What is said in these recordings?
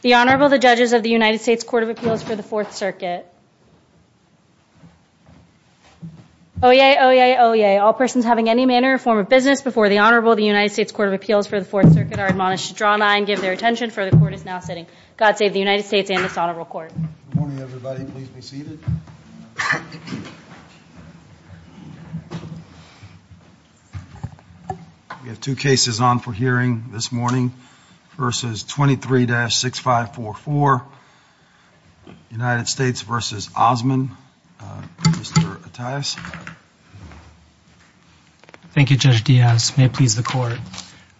The Honorable the judges of the United States Court of Appeals for the Fourth Circuit. Oyez, oyez, oyez. All persons having any manner or form of business before the Honorable the United States Court of Appeals for the Fourth Circuit are admonished to draw a line, give their attention, for the court is now sitting. God save the United States and this Honorable Court. We have two cases on for hearing this morning. Versus 23-6544. United States v. Osman. Mr. Attias. Thank you, Judge Diaz. May it please the court.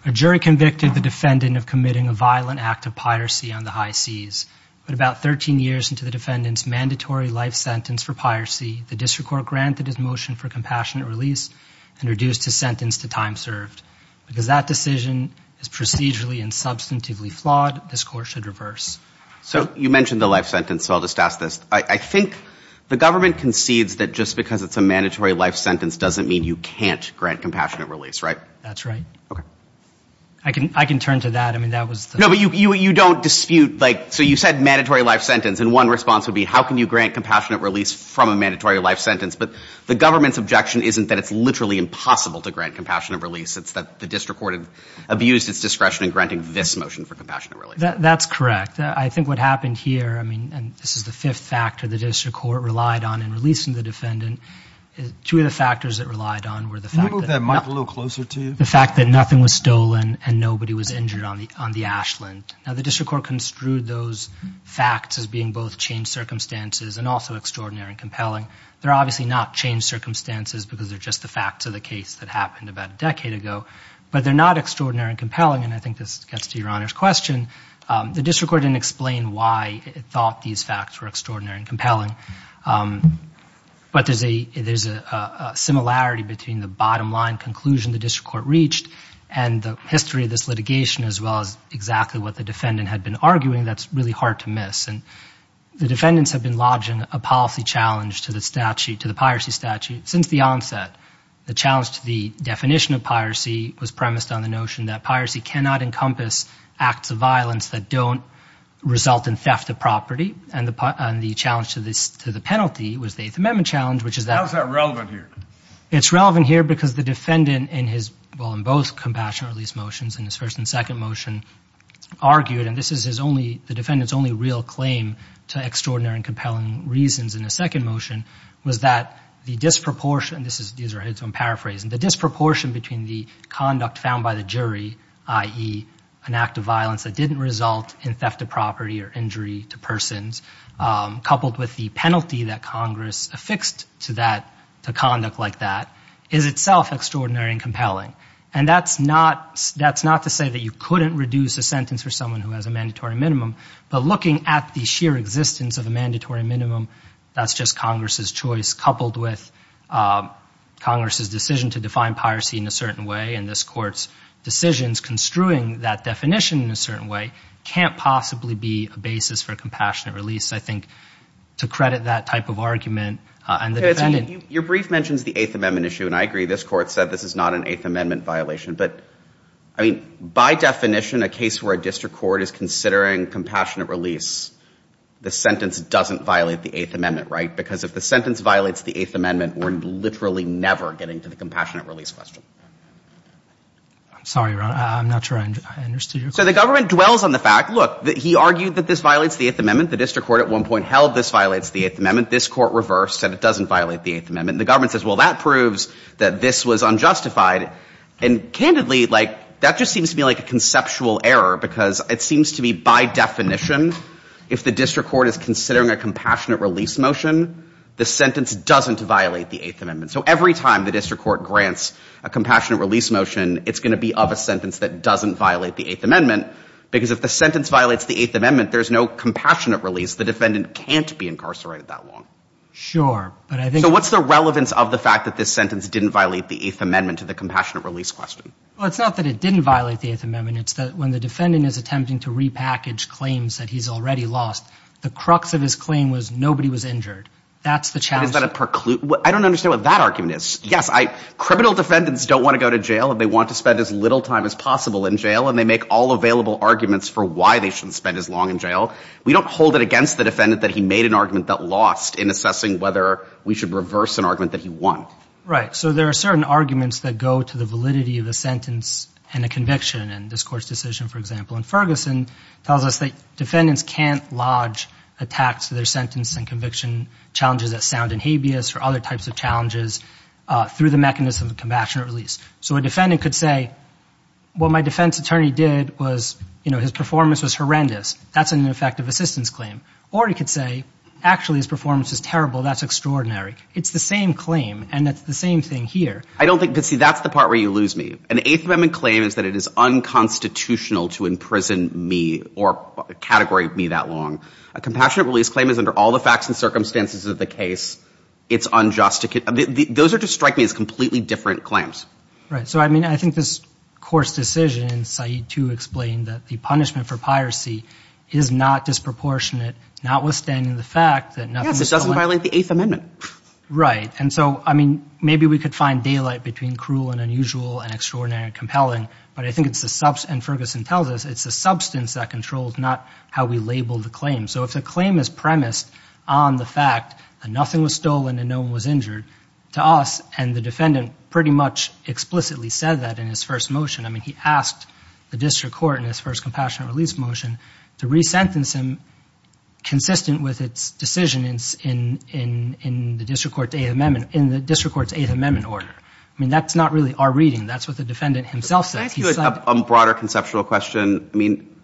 A jury convicted the defendant of committing a crime of the high C's. But about 13 years into the defendant's mandatory life sentence for piracy, the district court granted his motion for compassionate release and reduced his sentence to time served. Because that decision is procedurally and substantively flawed, this court should reverse. So you mentioned the life sentence, so I'll just ask this. I think the government concedes that just because it's a mandatory life sentence doesn't mean you can't grant compassionate release, right? That's right. Okay. I can, I can turn to that. I mean, that was No, but you don't dispute, like, so you said mandatory life sentence, and one response would be how can you grant compassionate release from a mandatory life sentence? But the government's objection isn't that it's literally impossible to grant compassionate release. It's that the district court had abused its discretion in granting this motion for compassionate release. That's correct. I think what happened here, I mean, and this is the fifth factor the district court relied on in releasing the defendant, two of the factors it relied on were the fact that Can you move that mic a little closer to you? the fact that nothing was stolen and nobody was injured on the, on the Ashland. Now the district court construed those facts as being both changed circumstances and also extraordinary and compelling. They're obviously not changed circumstances because they're just the facts of the case that happened about a decade ago. But they're not extraordinary and compelling, and I think this gets to your Honor's question. The district court didn't explain why it thought these facts were extraordinary and compelling. But there's a, there's a similarity between the bottom line conclusion the district court reached and the history of this litigation as well as exactly what the defendant had been arguing that's really hard to miss. And the defendants have been lodging a policy challenge to the statute, to the piracy statute since the onset. The challenge to the definition of piracy was premised on the notion that piracy cannot encompass acts of violence that don't result in theft of property. And the challenge to this, to the penalty was the Eighth Amendment challenge, which is that. How is that relevant here? It's relevant here because the defendant in his, well, in both compassionate release motions, in his first and second motion, argued, and this is his only, the defendant's only real claim to extraordinary and compelling reasons in a second motion, was that the disproportion, this is, these are his own paraphrasing, the disproportion between the conduct found by the jury, i.e. an act of violence that didn't result in theft of property or injury to persons, coupled with the penalty that Congress affixed to that, to conduct like that, is itself extraordinary and compelling. And that's not, that's not to say that you couldn't reduce a sentence for someone who has a mandatory minimum, but looking at the sheer existence of a mandatory minimum, that's just Congress's choice coupled with Congress's decision to define piracy in a certain way, and this Court's decisions construing that definition in a certain way, can't possibly be a basis for a compassionate release, I think, to credit that type of argument and the defendant. Your brief mentions the Eighth Amendment issue, and I agree, this Court said this is not an Eighth Amendment violation, but, I mean, by definition, a case where a district court is considering compassionate release, the sentence doesn't violate the Eighth Amendment, right? Because if the sentence violates the Eighth Amendment, we're literally never getting to the compassionate release question. I'm sorry, I'm not sure I understood your question. So the government dwells on the fact, look, that he argued that this violates the Eighth Amendment, this Court reversed, said it doesn't violate the Eighth Amendment, and the government says, well, that proves that this was unjustified, and candidly, like, that just seems to be like a conceptual error, because it seems to be, by definition, if the district court is considering a compassionate release motion, the sentence doesn't violate the Eighth Amendment. So every time the district court grants a compassionate release motion, it's going to be of a sentence that doesn't violate the Eighth Amendment, because if the sentence violates the Eighth Amendment, there's no way that the defendant can't be incarcerated that long. Sure, but I think... So what's the relevance of the fact that this sentence didn't violate the Eighth Amendment to the compassionate release question? Well, it's not that it didn't violate the Eighth Amendment. It's that when the defendant is attempting to repackage claims that he's already lost, the crux of his claim was nobody was injured. That's the challenge. But is that a preclude... I don't understand what that argument is. Yes, criminal defendants don't want to go to jail, and they want to spend as little time as possible in jail, and they make all available arguments for why they shouldn't spend as long in jail. We don't hold it against the defendant that he made an argument that lost in assessing whether we should reverse an argument that he won. Right. So there are certain arguments that go to the validity of the sentence and the conviction. And this court's decision, for example, in Ferguson, tells us that defendants can't lodge attacks to their sentence and conviction, challenges that sound in habeas or other types of challenges, through the mechanism of compassionate release. So a defendant could say, what my defense attorney did was, you know, his performance was horrendous. That's an ineffective assistance claim. Or he could say, actually, his performance is terrible. That's extraordinary. It's the same claim, and it's the same thing here. I don't think... Because, see, that's the part where you lose me. An Eighth Amendment claim is that it is unconstitutional to imprison me or categorize me that long. A compassionate release claim is, under all the facts and circumstances of the case, it's unjust to... Those are, to strike me, as completely different claims. Right. So, I mean, I think this court's decision in Said 2 explained that the punishment for piracy is not disproportionate, notwithstanding the fact that nothing... Yes, it doesn't violate the Eighth Amendment. Right. And so, I mean, maybe we could find daylight between cruel and unusual and extraordinary and compelling, but I think it's the... And Ferguson tells us it's the substance that controls, not how we label the claim. So if the claim is premised on the fact that nothing was stolen and no one was injured, to us, and the defendant pretty much explicitly said that in his first motion, I mean, he asked the district court in his first compassionate release motion to re-sentence him consistent with its decision in the district court's Eighth Amendment order. I mean, that's not really our reading. That's what the defendant himself said. Can I ask you a broader conceptual question? I mean,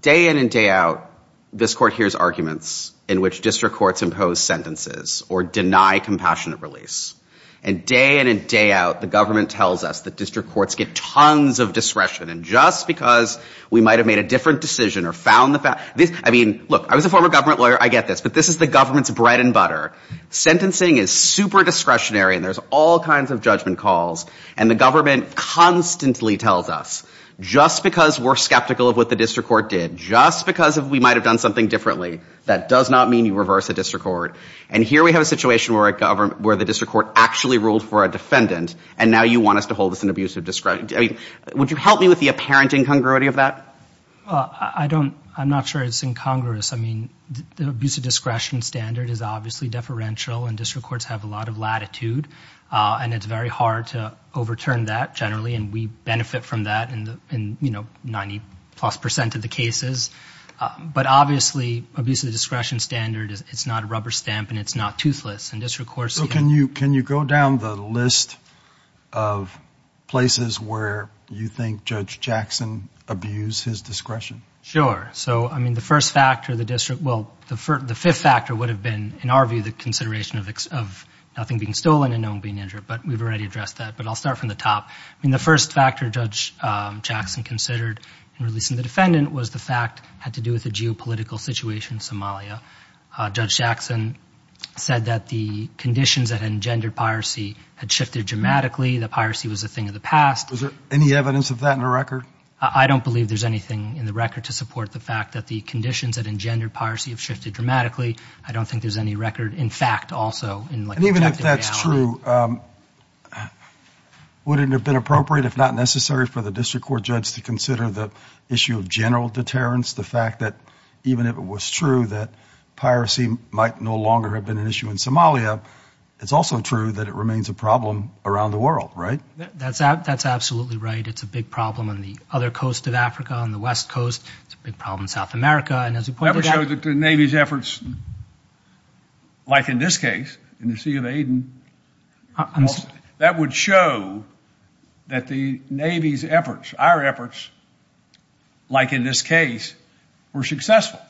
day in and day out, this court hears arguments in which district courts impose sentences or deny compassionate release. And day in and day out, the government tells us that district courts get tons of discretion. And just because we might have made a different decision or found the fact... I mean, look, I was a former government lawyer. I get this. But this is the government's bread and butter. Sentencing is super discretionary, and there's all kinds of judgment calls. And the government constantly tells us, just because we're skeptical of what the district court did, just because we might have done something differently, that does not mean you reverse a district court. And here we have a situation where the district court actually ruled for a defendant, and now you want us to hold this in abusive discretion. I mean, would you help me with the apparent incongruity of that? Well, I don't... I'm not sure it's incongruous. I mean, the abusive discretion standard is obviously deferential, and district courts have a lot of latitude. And it's very hard to overturn that generally, and we benefit from that in 90-plus percent of the cases. But obviously, abusive discretion standard, it's not a rubber stamp, and it's not toothless. So can you go down the list of places where you think Judge Jackson abused his discretion? Sure. So, I mean, the first factor, the district... Well, the fifth factor would have been, in our view, the consideration of nothing being stolen and no one being injured. But we've already addressed that. But I'll start from the top. I mean, the first factor Judge Jackson considered in releasing the defendant was the fact it had to do with the geopolitical situation in Somalia. Judge Jackson said that the conditions that engendered piracy had shifted dramatically. The piracy was a thing of the past. Is there any evidence of that in the record? I don't believe there's anything in the record to support the fact that the conditions that engendered piracy have shifted dramatically. I don't think there's any record, in fact, also, in like... And even if that's true, would it have been appropriate, if not necessary, for the district court judge to consider the issue of general deterrence, the fact that even if it was true that piracy might no longer have been an issue in Somalia, it's also true that it remains a problem around the world, right? That's absolutely right. It's a big problem on the other coast of Africa, on the West Coast. It's a big problem in South America. And as we pointed out... That would show that the Navy's efforts, like in this case, in the Sea of Aden, I'm sorry? That would show that the Navy's efforts, our efforts, like in this case, were successful.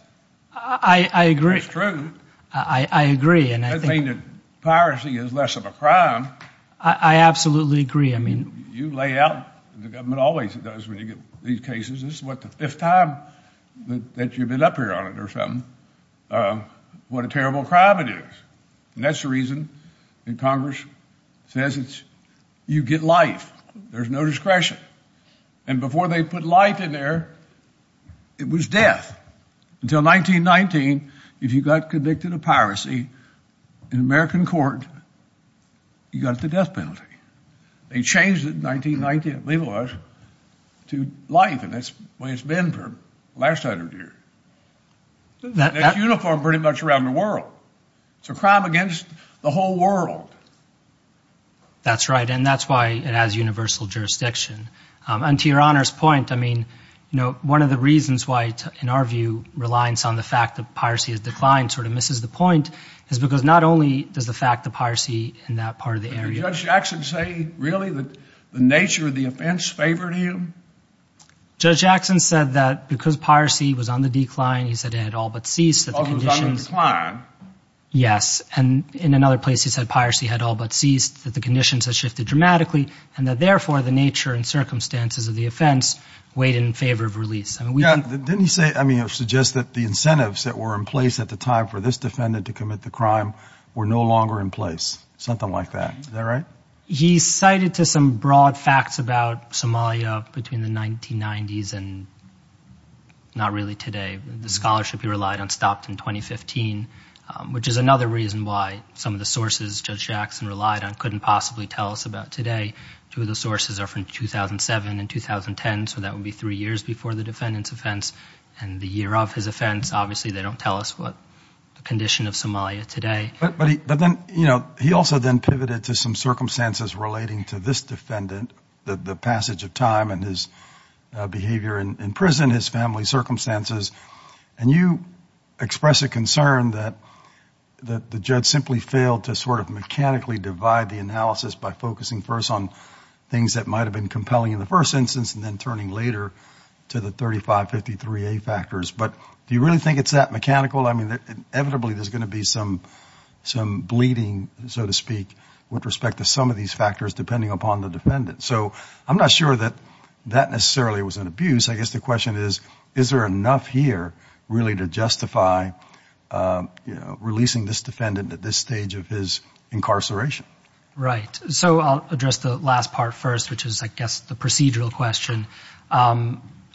I agree. It's true. I agree. It doesn't mean that piracy is less of a crime. I absolutely agree. I mean... You lay out, the government always does when you get these cases, this is what, the fifth time that you've been up here on it or something, what a terrible crime it is. And that's the reason that Congress says it's, you get life, there's no discretion. And before they put life in there, it was death. Until 1919, if you got convicted of piracy in American court, you got the death penalty. They changed it in 1919, I believe it was, to life. And that's the way it's been for the last 100 years. It's uniformed pretty much around the world. It's a crime against the whole world. That's right. And that's why it has universal jurisdiction. And to your Honor's point, I mean, one of the reasons why, in our view, reliance on the fact that piracy has declined sort of misses the point is because not only does the fact that piracy in that part of the area... Did Judge Jackson say, really, that the nature of the offense favored him? Judge Jackson said that because piracy was on the decline, he said it had all but ceased. Yes. And in another place, he said piracy had all but ceased, that the conditions had shifted dramatically, and that therefore the nature and circumstances of the offense weighed in favor of release. Didn't he say, I mean, suggest that the incentives that were in place at the time for this defendant to commit the crime were no longer in place, something like that. Is that right? He cited to some broad facts about Somalia between the 1990s and not really today. The scholarship he relied on stopped in 2015, which is another reason why some of the sources Judge Jackson relied on couldn't possibly tell us about today. Two of the sources are from 2007 and 2010, so that would be three years before the defendant's offense and the year of his offense. Obviously, they don't tell us what the condition of Somalia today is. But then, you know, he also then pivoted to some circumstances relating to this defendant, the passage of time and his behavior in prison, his family circumstances. And you express a concern that the judge simply failed to sort of mechanically divide the analysis by focusing first on things that might have been compelling in the first instance and then turning later to the 3553A factors. But do you really think it's that mechanical? I mean, inevitably, there's going to be some bleeding, so to speak, with respect to some of these factors depending upon the defendant. So I'm not sure that that necessarily was an abuse. I guess the question is, is there enough here really to justify, you know, releasing this defendant at this stage of his incarceration? Right. So I'll address the last part first, which is, I guess, the procedural question.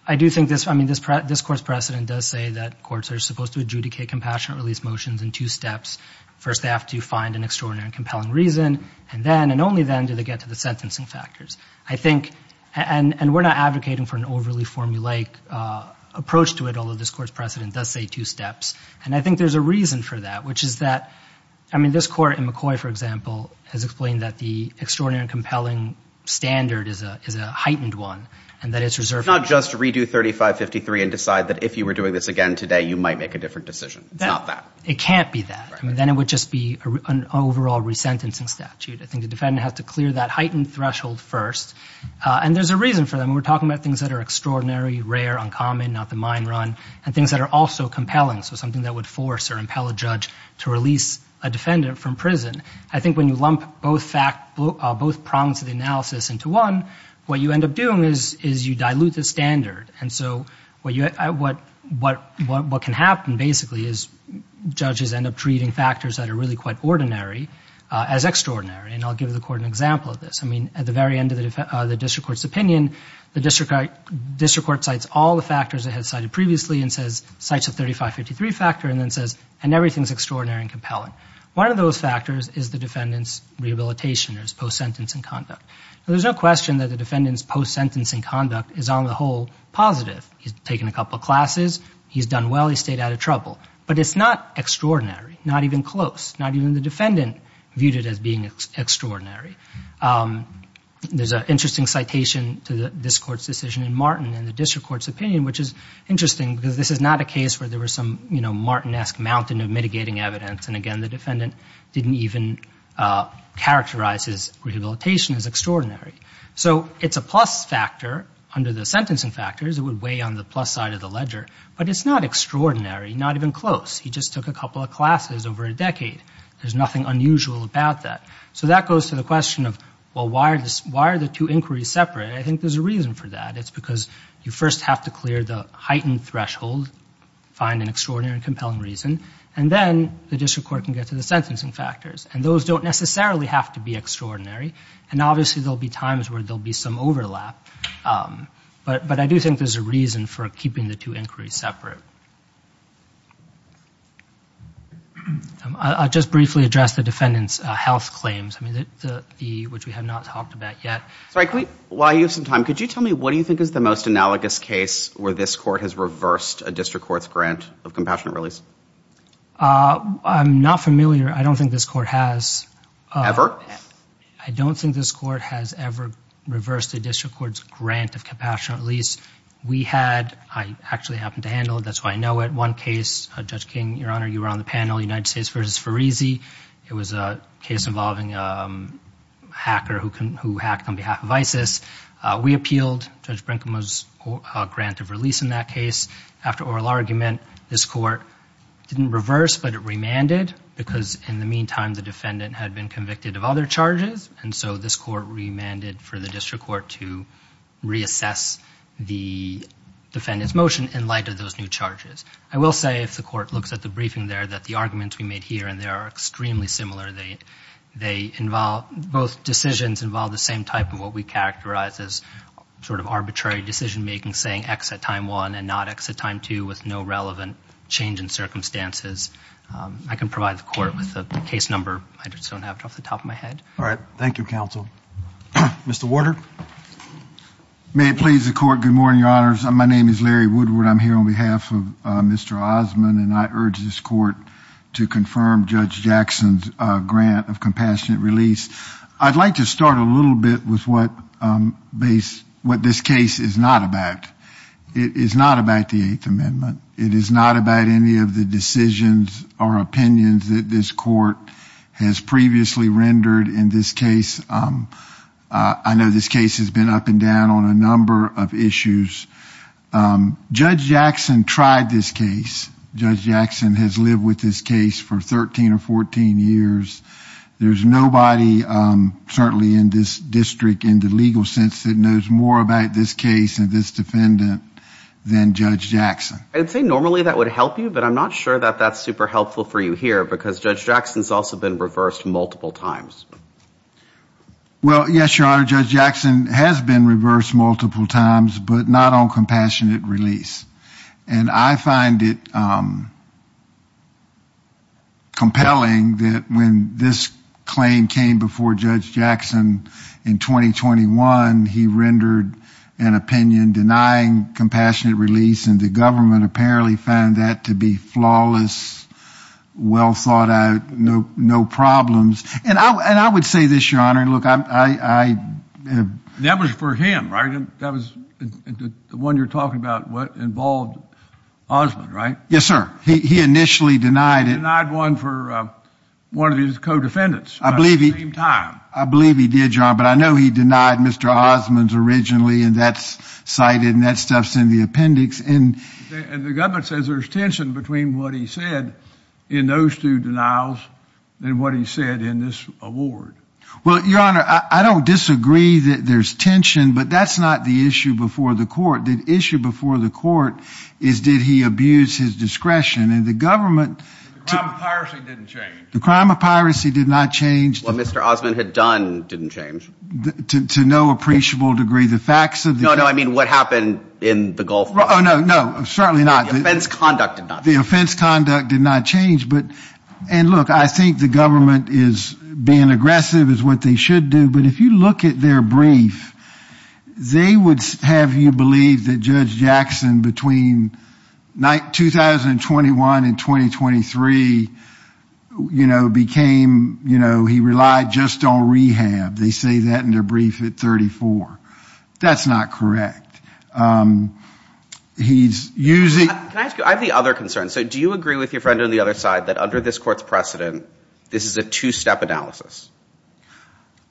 I do think this, I mean, this court's precedent does say that courts are supposed to do two things in two steps. First, they have to find an extraordinary and compelling reason. And then, and only then, do they get to the sentencing factors. I think, and we're not advocating for an overly formulaic approach to it, although this court's precedent does say two steps. And I think there's a reason for that, which is that, I mean, this court in McCoy, for example, has explained that the extraordinary and compelling standard is a heightened one, and that it's reserved. It's not just redo 3553 and decide that if you were doing this again today, you might make a different decision. It's not that. It can't be that. I mean, then it would just be an overall resentencing statute. I think the defendant has to clear that heightened threshold first. And there's a reason for that. We're talking about things that are extraordinary, rare, uncommon, not the mine run, and things that are also compelling. So something that would force or impel a judge to release a defendant from prison. I think when you lump both facts, both prongs of the analysis into one, what you end up doing is you dilute the standard. And so what can happen, basically, is judges end up treating factors that are really quite ordinary as extraordinary. And I'll give the court an example of this. I mean, at the very end of the district court's opinion, the district court cites all the factors it had cited previously and says, cites a 3553 factor, and then says, and everything's extraordinary and compelling. One of those factors is the defendant's rehabilitation or his post-sentencing conduct. There's no question that the defendant's post-sentencing conduct is, on the whole, positive. He's taken a couple of classes. He's done well. He stayed out of trouble. But it's not extraordinary, not even close, not even the defendant viewed it as being extraordinary. There's an interesting citation to this court's decision in Martin and the district court's opinion, which is interesting because this is not a case where there was some, you know, Martin-esque mountain of mitigating evidence. And again, the defendant didn't even characterize his factors. It would weigh on the plus side of the ledger. But it's not extraordinary, not even close. He just took a couple of classes over a decade. There's nothing unusual about that. So that goes to the question of, well, why are the two inquiries separate? And I think there's a reason for that. It's because you first have to clear the heightened threshold, find an extraordinary and compelling reason, and then the district court can get to the sentencing factors. And those don't necessarily have to be extraordinary. And obviously, there'll be times where there'll be some overlap. But I do think there's a reason for keeping the two inquiries separate. I'll just briefly address the defendant's health claims, which we have not talked about yet. Sorry, while you have some time, could you tell me what do you think is the most analogous case where this court has reversed a district court's grant of compassionate release? I'm not familiar. I don't think this court has. Ever? I don't think this court has ever reversed a district court's grant of compassionate release. We had. I actually happened to handle it. That's why I know it. One case, Judge King, Your Honor, you were on the panel, United States versus Fareezy. It was a case involving a hacker who hacked on behalf of ISIS. We appealed Judge Brinkman's grant of release in that case. After oral argument, this court didn't reverse, but it remanded because in the meantime, the defendant had been convicted of other charges, and so this court remanded for the district court to reassess the defendant's motion in light of those new charges. I will say, if the court looks at the briefing there, that the arguments we made here and there are extremely similar. Both decisions involve the same type of what we characterize as arbitrary decision-making, saying X at time one and not X at time two with no relevant change in circumstances. I can provide the court with the case number. I just don't have it off the top of my head. All right. Thank you, counsel. Mr. Warder. May it please the court. Good morning, Your Honors. My name is Larry Woodward. I'm here on behalf of Mr. Osmond, and I urge this court to confirm Judge Jackson's grant of compassionate release. I'd like to start a little bit with what this case is not about. It is not about the Eighth Amendment. It is not about any of the decisions or opinions that this court has previously rendered in this case. I know this case has been up and down on a number of issues. Judge Jackson tried this case. Judge Jackson has lived with this case for 13 or 14 years. There's nobody, certainly in this district in the legal sense, that knows more about this case and this defendant than Judge Jackson. I'd say normally that would help you, but I'm not sure that that's super helpful for you here, because Judge Jackson's also been reversed multiple times. Well, yes, Your Honor, Judge Jackson has been reversed multiple times, but not on compassionate release. And I find it compelling that when this claim came before Judge Jackson in 2021, he rendered an opinion denying compassionate release, and the government apparently found that to be flawless, well thought out, no problems. And I would say this, Your Honor, and look, I... That was for him, right? That was the one you're talking about, what involved Osmond, right? Yes, sir. He initially denied it. He denied one for one of his co-defendants at the same time. I believe he did, Your Honor, but I know he denied Mr. Osmond's originally, and that's cited, and that stuff's in the appendix. And the government says there's tension between what he said in those two denials and what he said in this award. Well, Your Honor, I don't disagree that there's tension, but that's not the issue before the court. The issue before the court is, did he abuse his discretion? And the government... The crime of the facts of the... No, no, I mean what happened in the Gulf... Oh, no, no, certainly not. The offense conduct did not change. The offense conduct did not change, but... And look, I think the government is being aggressive, is what they should do, but if you look at their brief, they would have you believe that Judge Jackson, between 2021 and 2023, you know, became, you know, he relied just on rehab. They say that in their brief at 34. That's not correct. He's using... Can I ask you, I have the other concern. So do you agree with your friend on the other side that under this court's precedent, this is a two-step analysis?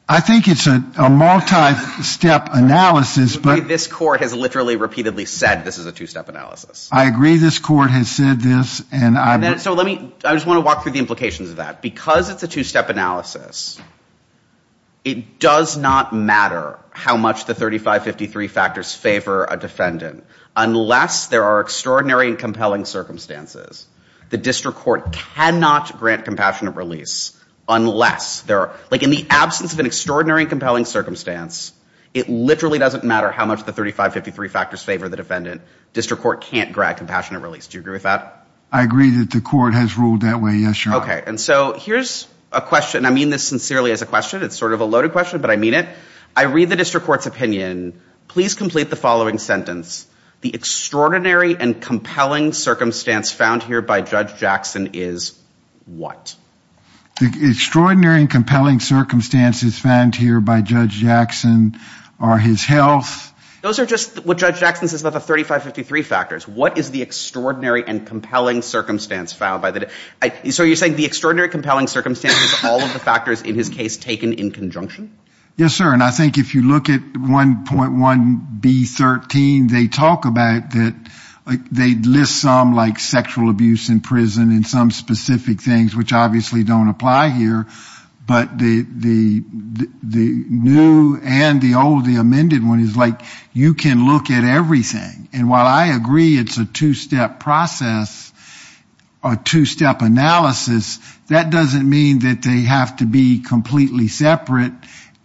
I think it's a multi-step analysis, but... This court has literally repeatedly said this is a walk through the implications of that. Because it's a two-step analysis, it does not matter how much the 3553 factors favor a defendant unless there are extraordinary and compelling circumstances. The district court cannot grant compassionate release unless there are... Like in the absence of an extraordinary and compelling circumstance, it literally doesn't matter how much the 3553 factors favor the defendant. District court can't grant compassionate release. Do you agree with that? I agree that the court has ruled that way. Yes, Your Honor. Okay. And so here's a question. I mean this sincerely as a question. It's sort of a loaded question, but I mean it. I read the district court's opinion. Please complete the following sentence. The extraordinary and compelling circumstance found here by Judge Jackson is what? The extraordinary and compelling circumstances found here by Judge Jackson are his health... Those are just what Judge Jackson says about the 3553 factors. What is the extraordinary and compelling circumstance found by the... So you're saying the extraordinary compelling circumstance is all of the factors in his case taken in conjunction? Yes, sir. And I think if you look at 1.1B13, they talk about that... They list some like sexual abuse in prison and some specific things which obviously don't apply here, but the new and the old, the amended one is like you can look at everything. And while I agree it's a two-step process or two-step analysis, that doesn't mean that they have to be completely separate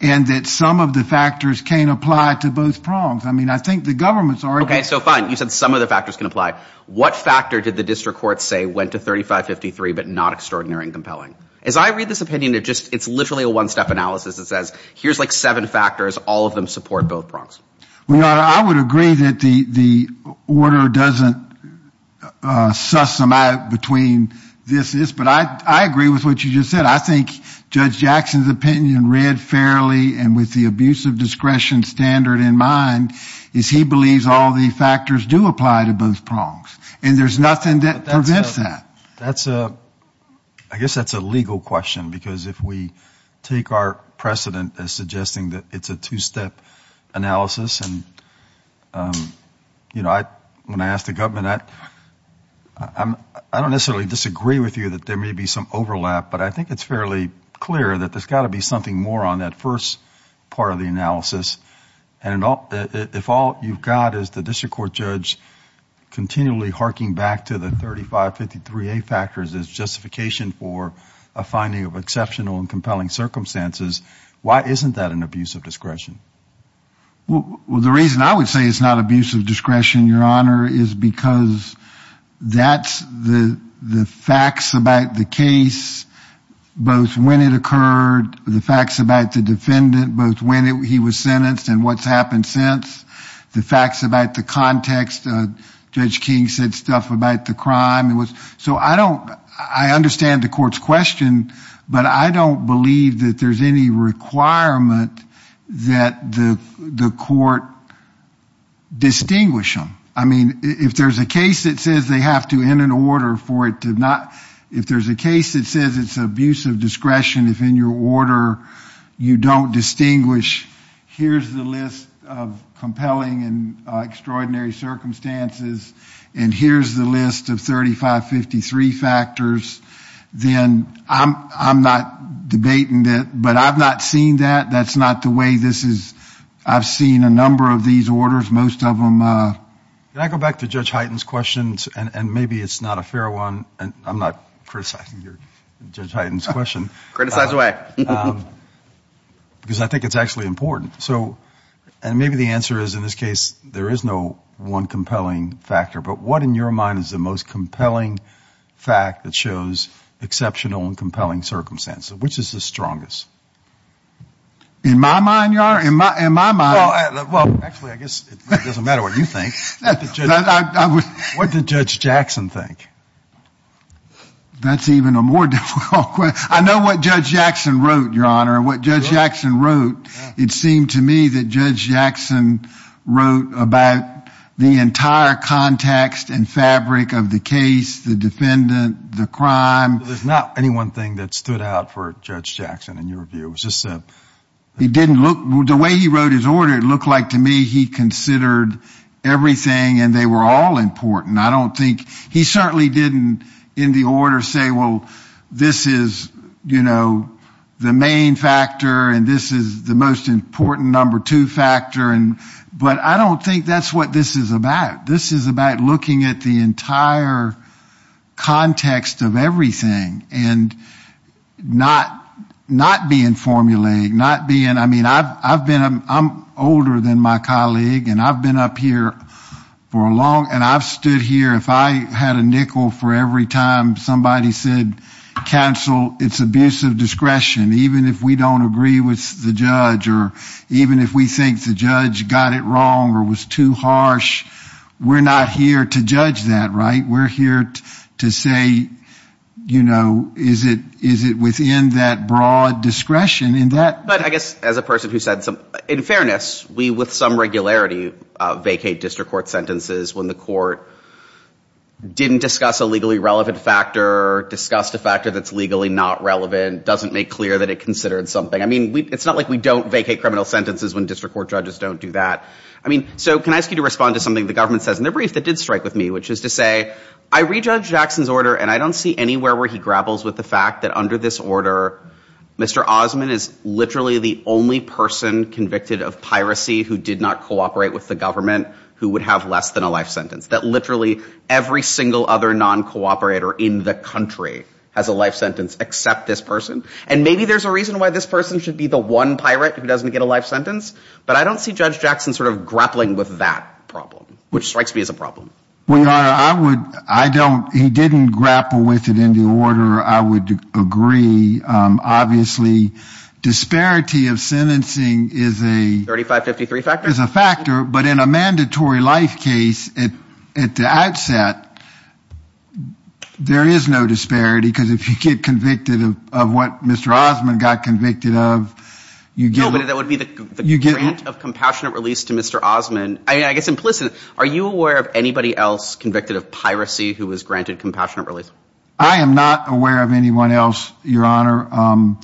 and that some of the factors can't apply to both prongs. I mean, I think the government's already... Okay. So fine. You said some of the but not extraordinary and compelling. As I read this opinion, it's literally a one-step analysis that says here's like seven factors, all of them support both prongs. Well, your honor, I would agree that the order doesn't suss them out between this, this, but I agree with what you just said. I think Judge Jackson's opinion read fairly and with the abuse of discretion standard in mind is he believes all the factors do apply to both prongs and there's nothing that prevents that. That's a... I guess that's a legal question because if we take our precedent as suggesting that it's a two-step analysis and when I asked the government, I don't necessarily disagree with you that there may be some overlap, but I think it's fairly clear that there's got to be something more on that first part of the analysis. And if all you've got is the district court judge continually harking back to the 3553A factors as justification for a finding of exceptional and compelling circumstances, why isn't that an abuse of discretion? Well, the reason I would say it's not abuse of discretion, your honor, is because that's the facts about the case, both when it occurred, the facts about the defendant, both when he was sentenced and what's happened since, the facts about the context. Judge King said stuff about the crime. So I don't... I understand the court's question, but I don't believe that there's any requirement that the court distinguish them. I mean, if there's a case that says they have to, in an order for it to not... If there's a case that says it's abuse of discretion, if in your order you don't distinguish, here's the list of compelling and extraordinary circumstances, and here's the list of 3553 factors, then I'm not debating that. But I've not seen that. That's not the way this is... I've seen a number of these orders, most of them... Can I go back to Judge Hyten's questions? And maybe it's not a fair one, and I'm not criticizing Judge Hyten's question. Criticize away. Because I think it's actually important. So, and maybe the answer is, in this case, there is no one compelling factor, but what in your mind is the most compelling fact that shows exceptional and compelling circumstances? Which is the strongest? In my mind, Your Honor, in my mind... Well, actually, I guess it doesn't matter what you think. What did Judge Jackson think? That's even a more difficult question. I know what Judge Jackson wrote, Your Honor. What Judge Jackson wrote, it seemed to me that Judge Jackson wrote about the entire context and fabric of the case, the defendant, the crime. There's not any one thing that stood out for Judge Jackson in your view. It was just... He didn't look... The way he wrote his order, it looked like to me he considered everything and they were all important. I don't think... He certainly didn't, in the order, say, well, this is the main factor and this is the most important number two factor. But I don't think that's what this is about. This is about looking at the entire context of everything and not being formulaic, not being... I mean, I've been... I'm older than my colleague and I've been up here for a long... And I've stood here, if I had a nickel for every time somebody said, counsel, it's abusive discretion, even if we don't agree with the judge, or even if we think the judge got it wrong or was too harsh, we're not here to judge that, right? We're here to say, is it within that broad discretion in that... But I guess as a person who said... In fairness, we, with some regularity, vacate district court sentences when the court didn't discuss a legally relevant factor, discussed a factor that's legally not relevant, doesn't make clear that it considered something. I mean, it's not like we don't vacate criminal sentences when district court judges don't do that. I mean, so can I ask you to respond to something the government says in the brief that did strike with me, which is to say, I read Judge Jackson's order and I don't see anywhere where he grapples with the fact that under this order, Mr. Osmond is literally the only person convicted of piracy who did not cooperate with the government who would have less than a life sentence, that literally every single other non-cooperator in the country has a life sentence except this person. And maybe there's a reason why this person should be the one pirate who doesn't get a life sentence, but I don't see sort of grappling with that problem, which strikes me as a problem. Well, Your Honor, I would, I don't, he didn't grapple with it in the order I would agree. Obviously, disparity of sentencing is a... 3553 factor? Is a factor, but in a mandatory life case, at the outset, there is no disparity because if you get convicted of what Mr. Osmond got convicted of, you get... to Mr. Osmond. I mean, I guess implicitly, are you aware of anybody else convicted of piracy who was granted compassionate release? I am not aware of anyone else, Your Honor,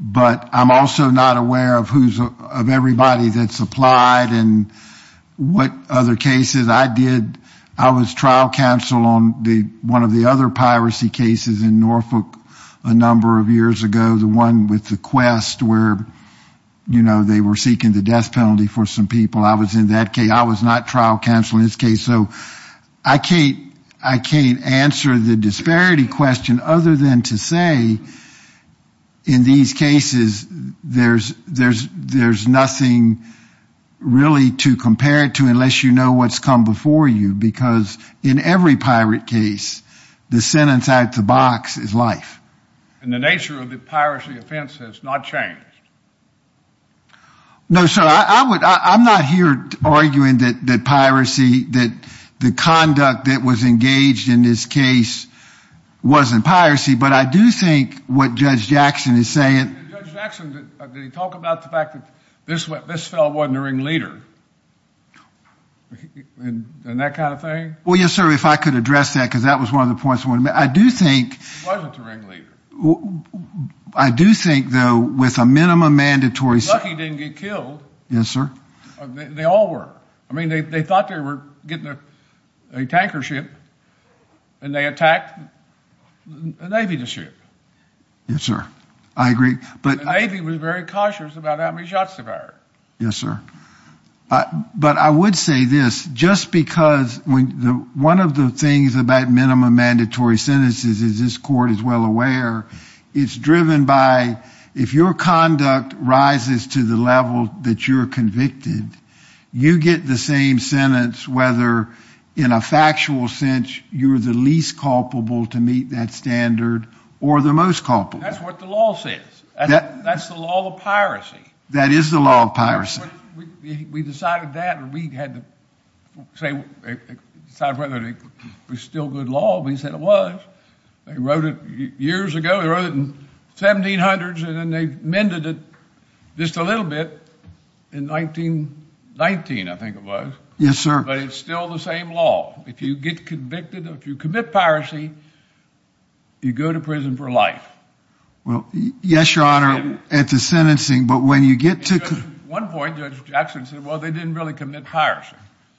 but I'm also not aware of who's, of everybody that's applied and what other cases I did. I was trial counsel on the, one of the other piracy cases in Norfolk a number of years ago, the one with the quest where, you know, they were seeking the death penalty for some people. I was in that case. I was not trial counsel in this case. So, I can't, I can't answer the disparity question other than to say in these cases, there's, there's, there's nothing really to compare it to unless you know what's come before you, because in every pirate case, the sentence out the box is life. And the nature of the piracy offense has not changed? No, sir. I would, I'm not here arguing that, that piracy, that the conduct that was engaged in this case wasn't piracy, but I do think what Judge Jackson is saying... Judge Jackson, did he talk about the fact that this, this fellow wasn't a ringleader? And that kind of thing? Well, yes, sir. If I could address that, because that was one of the points I wanted to make. I do think... He wasn't a ringleader. Well, I do think, though, with a minimum mandatory... Lucky didn't get killed. Yes, sir. They all were. I mean, they thought they were getting a tanker ship and they attacked a Navy ship. Yes, sir. I agree, but... The Navy was very cautious about how many shots they fired. Yes, sir. But I would say this, just because when the, one of the things about minimum mandatory sentences, as this court is well aware, it's driven by, if your conduct rises to the level that you're convicted, you get the same sentence, whether in a factual sense, you're the least culpable to meet that standard or the most culpable. That's what the law says. That's the law of piracy. That is the law of piracy. We decided that and we had to decide whether it was still good law. We said it was. They wrote it years ago. They wrote it in 1700s and then they mended it just a little bit in 1919, I think it was. Yes, sir. But it's still the same law. If you get convicted, if you commit piracy, you go to prison for life. Well, yes, your honor, at the sentencing, but when you get to... At one point, Judge Jackson said, well, they didn't really commit piracy.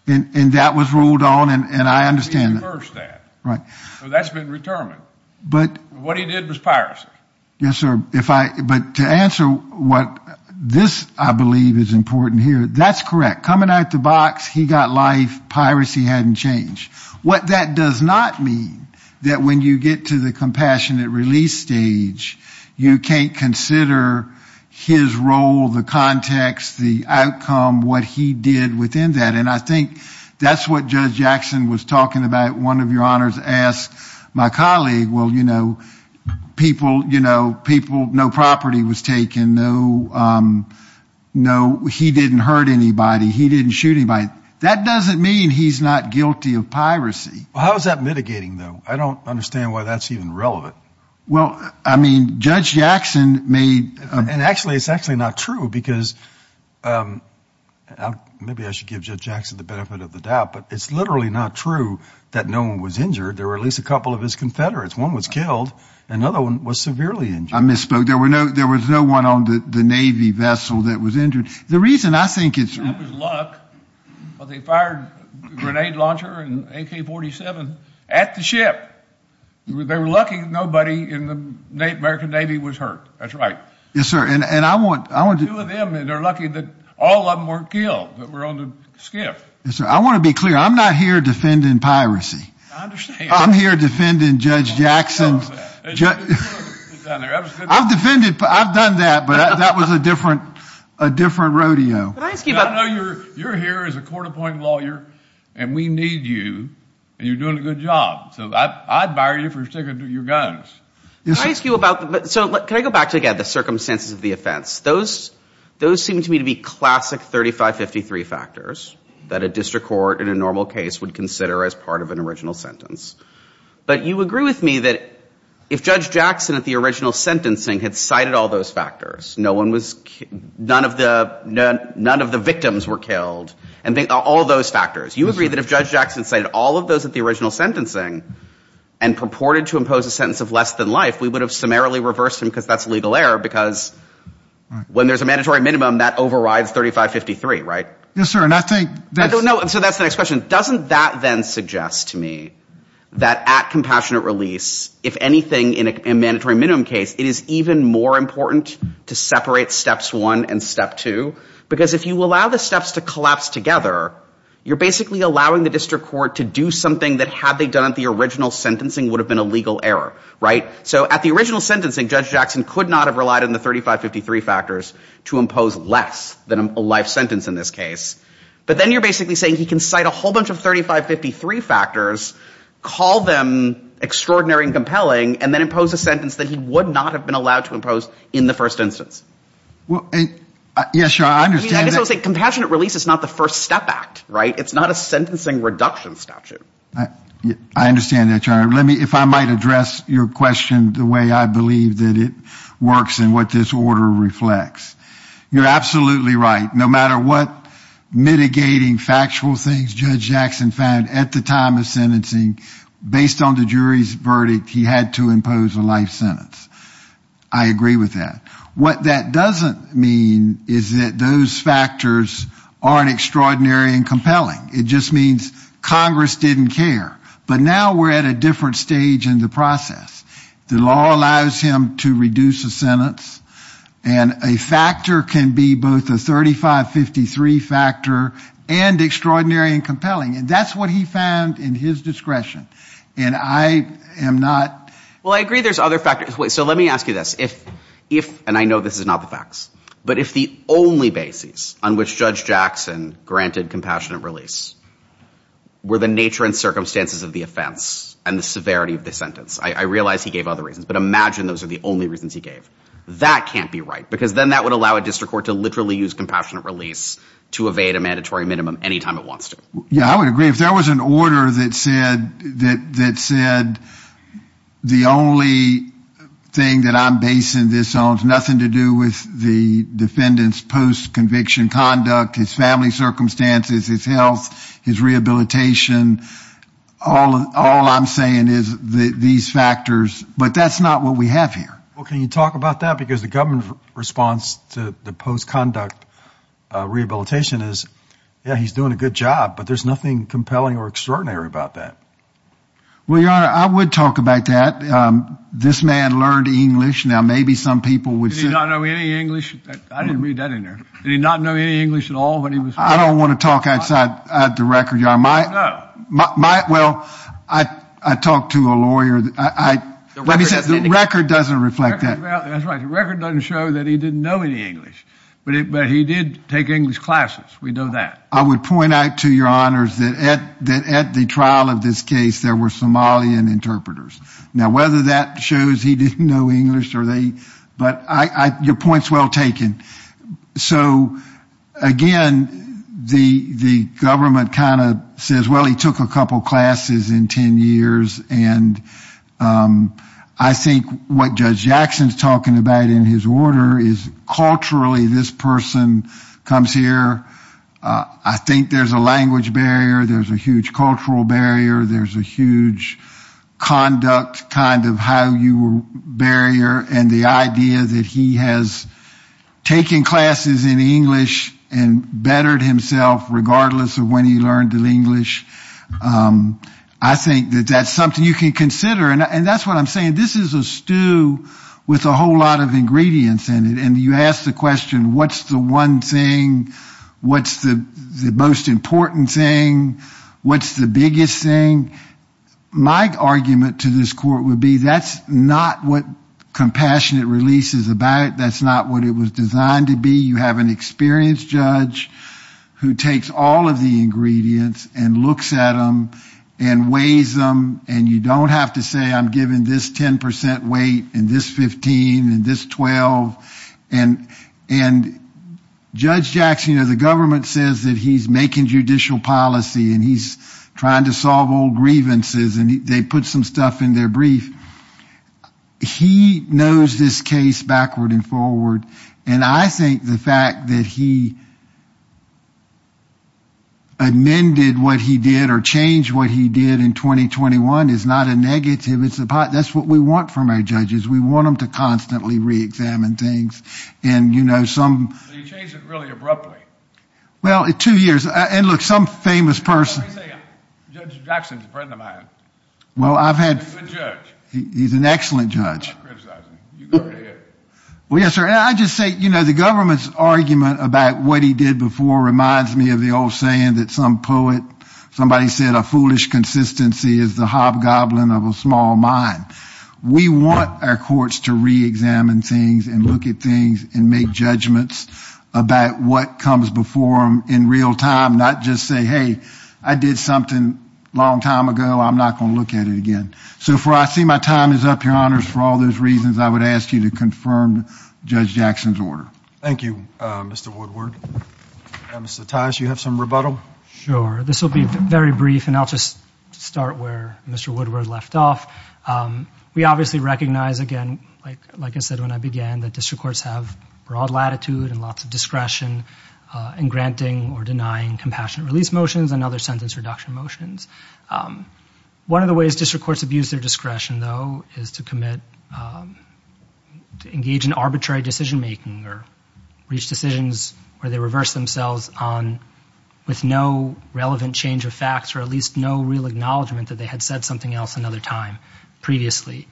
And that was ruled on and I understand that. He reversed that. Right. So that's been retermined. What he did was piracy. Yes, sir. But to answer what this, I believe, is important here, that's correct. Coming out of the box, he got life. Piracy hadn't changed. What that does not mean, that when you get to the compassionate release stage, you can't consider his role, the context, the outcome, what he did within that. And I think that's what Judge Jackson was talking about. One of your honors asked my colleague, well, no property was taken. He didn't hurt anybody. He didn't shoot anybody. That doesn't mean he's not guilty of piracy. How is that mitigating, though? I don't understand why that's even relevant. Well, I mean, Judge Jackson made... And actually, it's actually not true because... Maybe I should give Judge Jackson the benefit of the doubt, but it's literally not true that no one was injured. There were at least a couple of his confederates. One was killed. Another one was severely injured. I misspoke. There was no one on the Navy vessel that was injured. The reason I think it's... That was luck. But they fired a grenade launcher and an AK-47 at the ship. They were lucky nobody in the American Navy was hurt. That's right. Yes, sir. And I want... Two of them, and they're lucky that all of them weren't killed, that were on the skiff. Yes, sir. I want to be clear. I'm not here defending piracy. I understand. I'm here defending Judge Jackson's... I've defended... I've done that, but that was a different rodeo. Can I ask you about... I know you're here as a court-appointed lawyer, and we need you, and you're doing a good job. So I'd fire you for sticking to your guns. Can I ask you about... So can I go back to, again, the circumstances of the offense? Those seem to me to be classic 3553 factors that a district court in a normal case would consider as part of an original sentence. But you agree with me that if Judge Jackson, at the original sentencing, had cited all those factors, none of the victims were killed, and all those factors. You agree that if Judge Jackson cited all of those at the original sentencing and purported to impose a sentence of less than life, we would have summarily reversed him because that's a legal error. Because when there's a mandatory minimum, that overrides 3553, right? Yes, sir. And I think... So that's the next question. Doesn't that then suggest to me that at compassionate release, if anything, in a mandatory minimum case, it is even more important to separate steps one and step two? Because if you allow the steps to collapse together, you're basically allowing the district court to do something that, had they done it at the original sentencing, would have been a legal error, right? So at the original sentencing, Judge Jackson could not have relied on the 3553 factors to impose less than a life sentence in this case. But then you're basically saying he can cite a whole bunch of 3553 factors, call them extraordinary and compelling, and then impose a sentence that he would not have been allowed to impose in the first instance. Well, yes, sir. I understand that... It's not a sentencing reduction statute. I understand that, Your Honor. If I might address your question the way I believe that it works and what this order reflects. You're absolutely right. No matter what mitigating factual things Judge Jackson found at the time of sentencing, based on the jury's verdict, he had to impose a life sentence. I agree with that. What that doesn't mean is that those factors aren't extraordinary and compelling. It just means Congress didn't care. But now we're at a different stage in the process. The law allows him to reduce a sentence. And a factor can be both a 3553 factor and extraordinary and compelling. And that's what he found in his discretion. And I am not... Well, I agree there's other factors. So let me ask you this. And I know this is not the facts. But if the only basis on which Judge Jackson granted compassionate release were the nature and circumstances of the offense and the severity of the sentence... I realize he gave other reasons, but imagine those are the only reasons he gave. That can't be right. Because then that would allow a district court to literally use compassionate release to evade a mandatory minimum anytime it wants to. Yeah, I would agree. If there was an order that said the only thing that I'm basing this on has nothing to do with the defendant's post-conviction conduct, his family circumstances, his health, his rehabilitation. All I'm saying is these factors. But that's not what we have here. Well, can you talk about that? Because the government's response to the post-conduct rehabilitation is, yeah, he's doing a good job. But there's nothing compelling or extraordinary about that. Well, Your Honor, I would talk about that. This man learned English. Now, maybe some people would say... Did he not know any English? I didn't read that in there. Did he not know any English at all when he was... I don't want to talk outside the record, Your Honor. I don't know. Well, I talked to a lawyer. The record doesn't reflect that. That's right. The record doesn't show that he didn't know any English. But he did take English classes. We know that. I would point out to Your Honors that at the trial of this case, there were Somalian interpreters. Now, whether that shows he didn't know English or they... But your point's well taken. So, again, the government kind of says, well, he took a couple classes in 10 years. And I think what Judge Jackson's talking about in his order is, culturally, this person comes here. I think there's a language barrier. There's a huge cultural barrier. There's a huge conduct kind of how you barrier. And the idea that he has taken classes in English and bettered himself regardless of when he learned English, I think that that's something you can consider. And that's what I'm saying. This is a stew with a whole lot of ingredients in it. And you ask the question, what's the one thing? What's the most important thing? What's the biggest thing? My argument to this court would be, that's not what compassionate release is about. That's not what it was designed to be. You have an experienced judge who takes all of the ingredients and looks at them and weighs them. And you don't have to say, I'm giving this 10% weight and this 15% and this 12%. And Judge Jackson, the government says that he's making judicial policy and he's trying to solve old grievances and they put some stuff in their brief. He knows this case backward and forward. And I think the fact that he amended what he did or changed what he did in 2021 is not a negative. It's a positive. That's what we want from our judges. We want them to constantly reexamine things. And, you know, some... So you changed it really abruptly? Well, in two years. And look, some famous person... Let me say, Judge Jackson's a friend of mine. Well, I've had... He's a good judge. He's an excellent judge. I'm not criticizing. You go right ahead. Well, yes, sir. And I just say, you know, the government's argument about what he did before reminds me of the old saying that some poet, somebody said, foolish consistency is the hobgoblin of a small mind. We want our courts to reexamine things and look at things and make judgments about what comes before them in real time, not just say, hey, I did something a long time ago. I'm not going to look at it again. So far, I see my time is up, Your Honors. For all those reasons, I would ask you to confirm Judge Jackson's order. Thank you, Mr. Woodward. Mr. Tice, you have some rebuttal? Sure. This will be very brief, and I'll just start where Mr. Woodward left off. We obviously recognize, again, like I said when I began, that district courts have broad latitude and lots of discretion in granting or denying compassionate release motions and other sentence reduction motions. One of the ways district courts abuse their discretion, though, is to commit, to engage in arbitrary decision-making or reach decisions where they reverse themselves with no relevant change of facts or at least no real acknowledgment that they had said something else another time previously.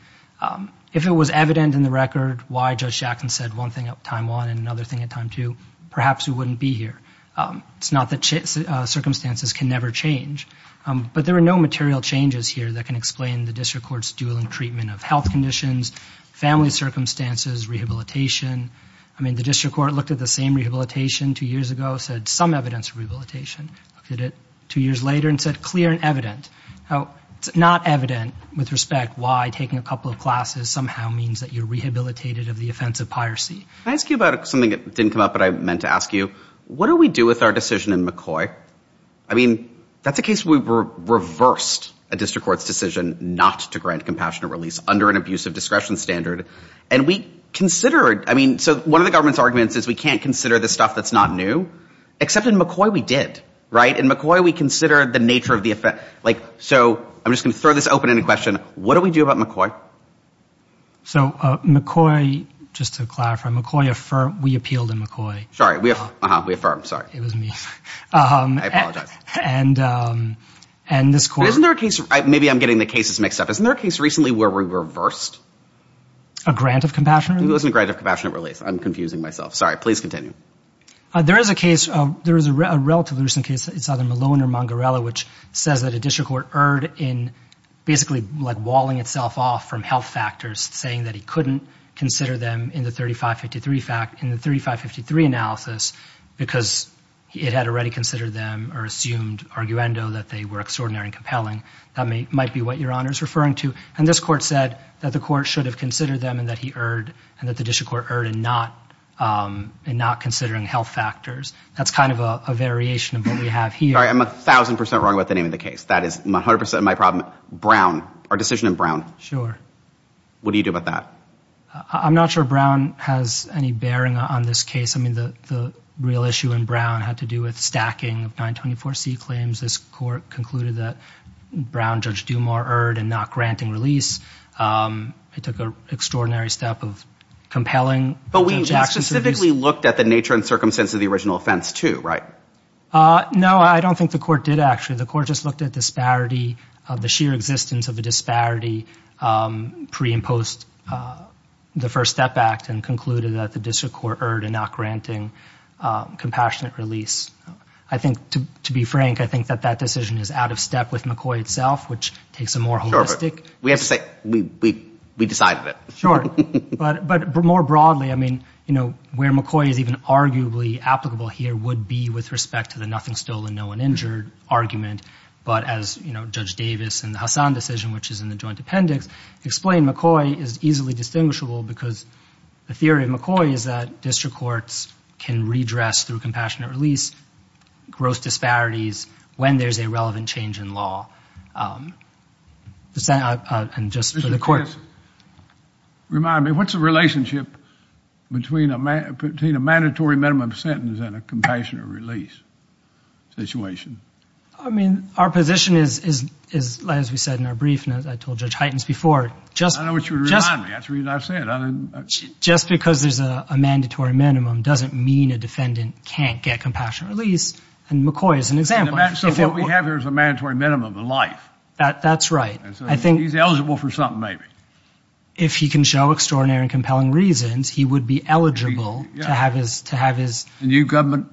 If it was evident in the record why Judge Jackson said one thing at time one and another thing at time two, perhaps we wouldn't be here. It's not that circumstances can never change. But there are no material changes here that can explain the district court's dueling treatment of health conditions, family circumstances, rehabilitation. I mean, the district court looked at the same rehabilitation two years ago, said some evidence of rehabilitation. Looked at it two years later and said clear and evident. How it's not evident with respect why taking a couple of classes somehow means that you're rehabilitated of the offense of piracy. Can I ask you about something that didn't come up but I meant to ask you? What do we do with our decision in McCoy? I mean, that's a case where we reversed a district court's decision not to grant compassionate release under an abusive discretion standard. And we considered, I mean, so one of the government's arguments is we can't consider this stuff that's not new. Except in McCoy, we did, right? In McCoy, we considered the nature of the offense. Like, so I'm just going to throw this open in a question. What do we do about McCoy? So McCoy, just to clarify, McCoy affirmed, we appealed in McCoy. Sorry, we affirmed, sorry. It was me. I apologize. And this court- Isn't there a case, maybe I'm getting the cases mixed up. Isn't there a case recently where we reversed? A grant of compassionate release? It wasn't a grant of compassionate release. I'm confusing myself. Sorry, please continue. There is a case, there is a relatively recent case in Southern Malone or Mongarella, which says that a district court erred in basically like walling itself off from health factors, saying that he couldn't consider them in the 3553 analysis because it had already considered them or assumed, arguendo, that they were extraordinary and compelling. That might be what your honor is referring to. And this court said that the court should have considered them and that he erred and that the district court erred in not considering health factors. That's kind of a variation of what we have here. Sorry, I'm a thousand percent wrong about the name of the case. That is 100% of my problem. Brown, our decision in Brown. Sure. What do you do about that? I'm not sure Brown has any bearing on this case. I mean, the real issue in Brown had to do with stacking of 924C claims. This court concluded that Brown, Judge Dumar, erred in not granting release. It took an extraordinary step of compelling... But we specifically looked at the nature and circumstance of the original offense too, right? No, I don't think the court did actually. The court just looked at disparity, the sheer existence of a disparity pre and post the First Step Act and concluded that the district court erred in not granting compassionate release. I think, to be frank, I think that that decision is out of step with McCoy itself, which takes a more holistic... We have to say we decided it. Sure, but more broadly, I mean, you know, where McCoy is even arguably applicable here would be with respect to the nothing stolen, no one injured argument. But as, you know, Judge Davis and the Hassan decision, which is in the joint appendix, explain McCoy is easily distinguishable because the theory of McCoy is that district courts can redress through compassionate release gross disparities when there's a relevant change in law. And just for the court... Remind me, what's the relationship between a mandatory minimum sentence and a compassionate release situation? I mean, our position is, as we said in our brief, and as I told Judge Heitens before, just... I know what you're reminding me. That's the reason I said. Just because there's a mandatory minimum doesn't mean a defendant can't get compassionate release. And McCoy is an example. So what we have here is a mandatory minimum of life. That's right. He's eligible for something, maybe. If he can show extraordinary and compelling reasons, he would be eligible to have his... And the government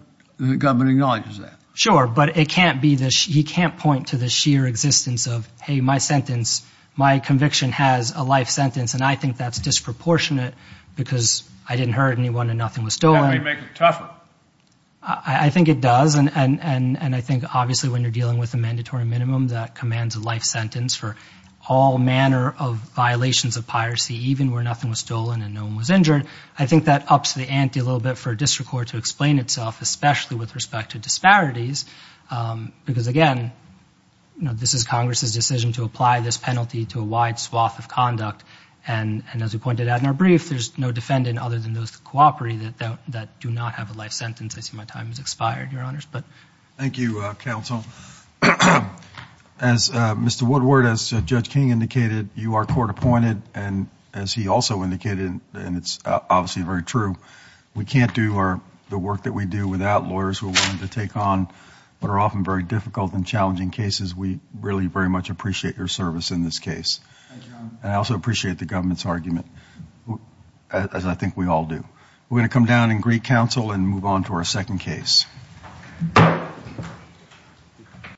acknowledges that. Sure, but it can't be... He can't point to the sheer existence of, hey, my sentence, my conviction has a life sentence. And I think that's disproportionate because I didn't hurt anyone and nothing was stolen. That may make it tougher. I think it does. And I think, obviously, when you're dealing with a mandatory minimum, that commands a life sentence for all manner of violations of piracy, even where nothing was stolen and no one was injured. I think that ups the ante a little bit for a district court to explain itself, especially with respect to disparities. Because, again, this is Congress's decision to apply this penalty to a wide swath of conduct. And as we pointed out in our brief, there's no defendant other than those that cooperate that do not have a life sentence. I see my time has expired, Your Honors, but... Thank you, counsel. As Mr. Woodward, as Judge King indicated, you are court appointed. And as he also indicated, and it's obviously very true, we can't do the work that we do without lawyers who are willing to take on what are often very difficult and challenging cases. We really very much appreciate your service in this case. Thank you, Your Honor. And I also appreciate the government's argument, as I think we all do. We're going to come down in Greek counsel and move on to our second case. Thank you.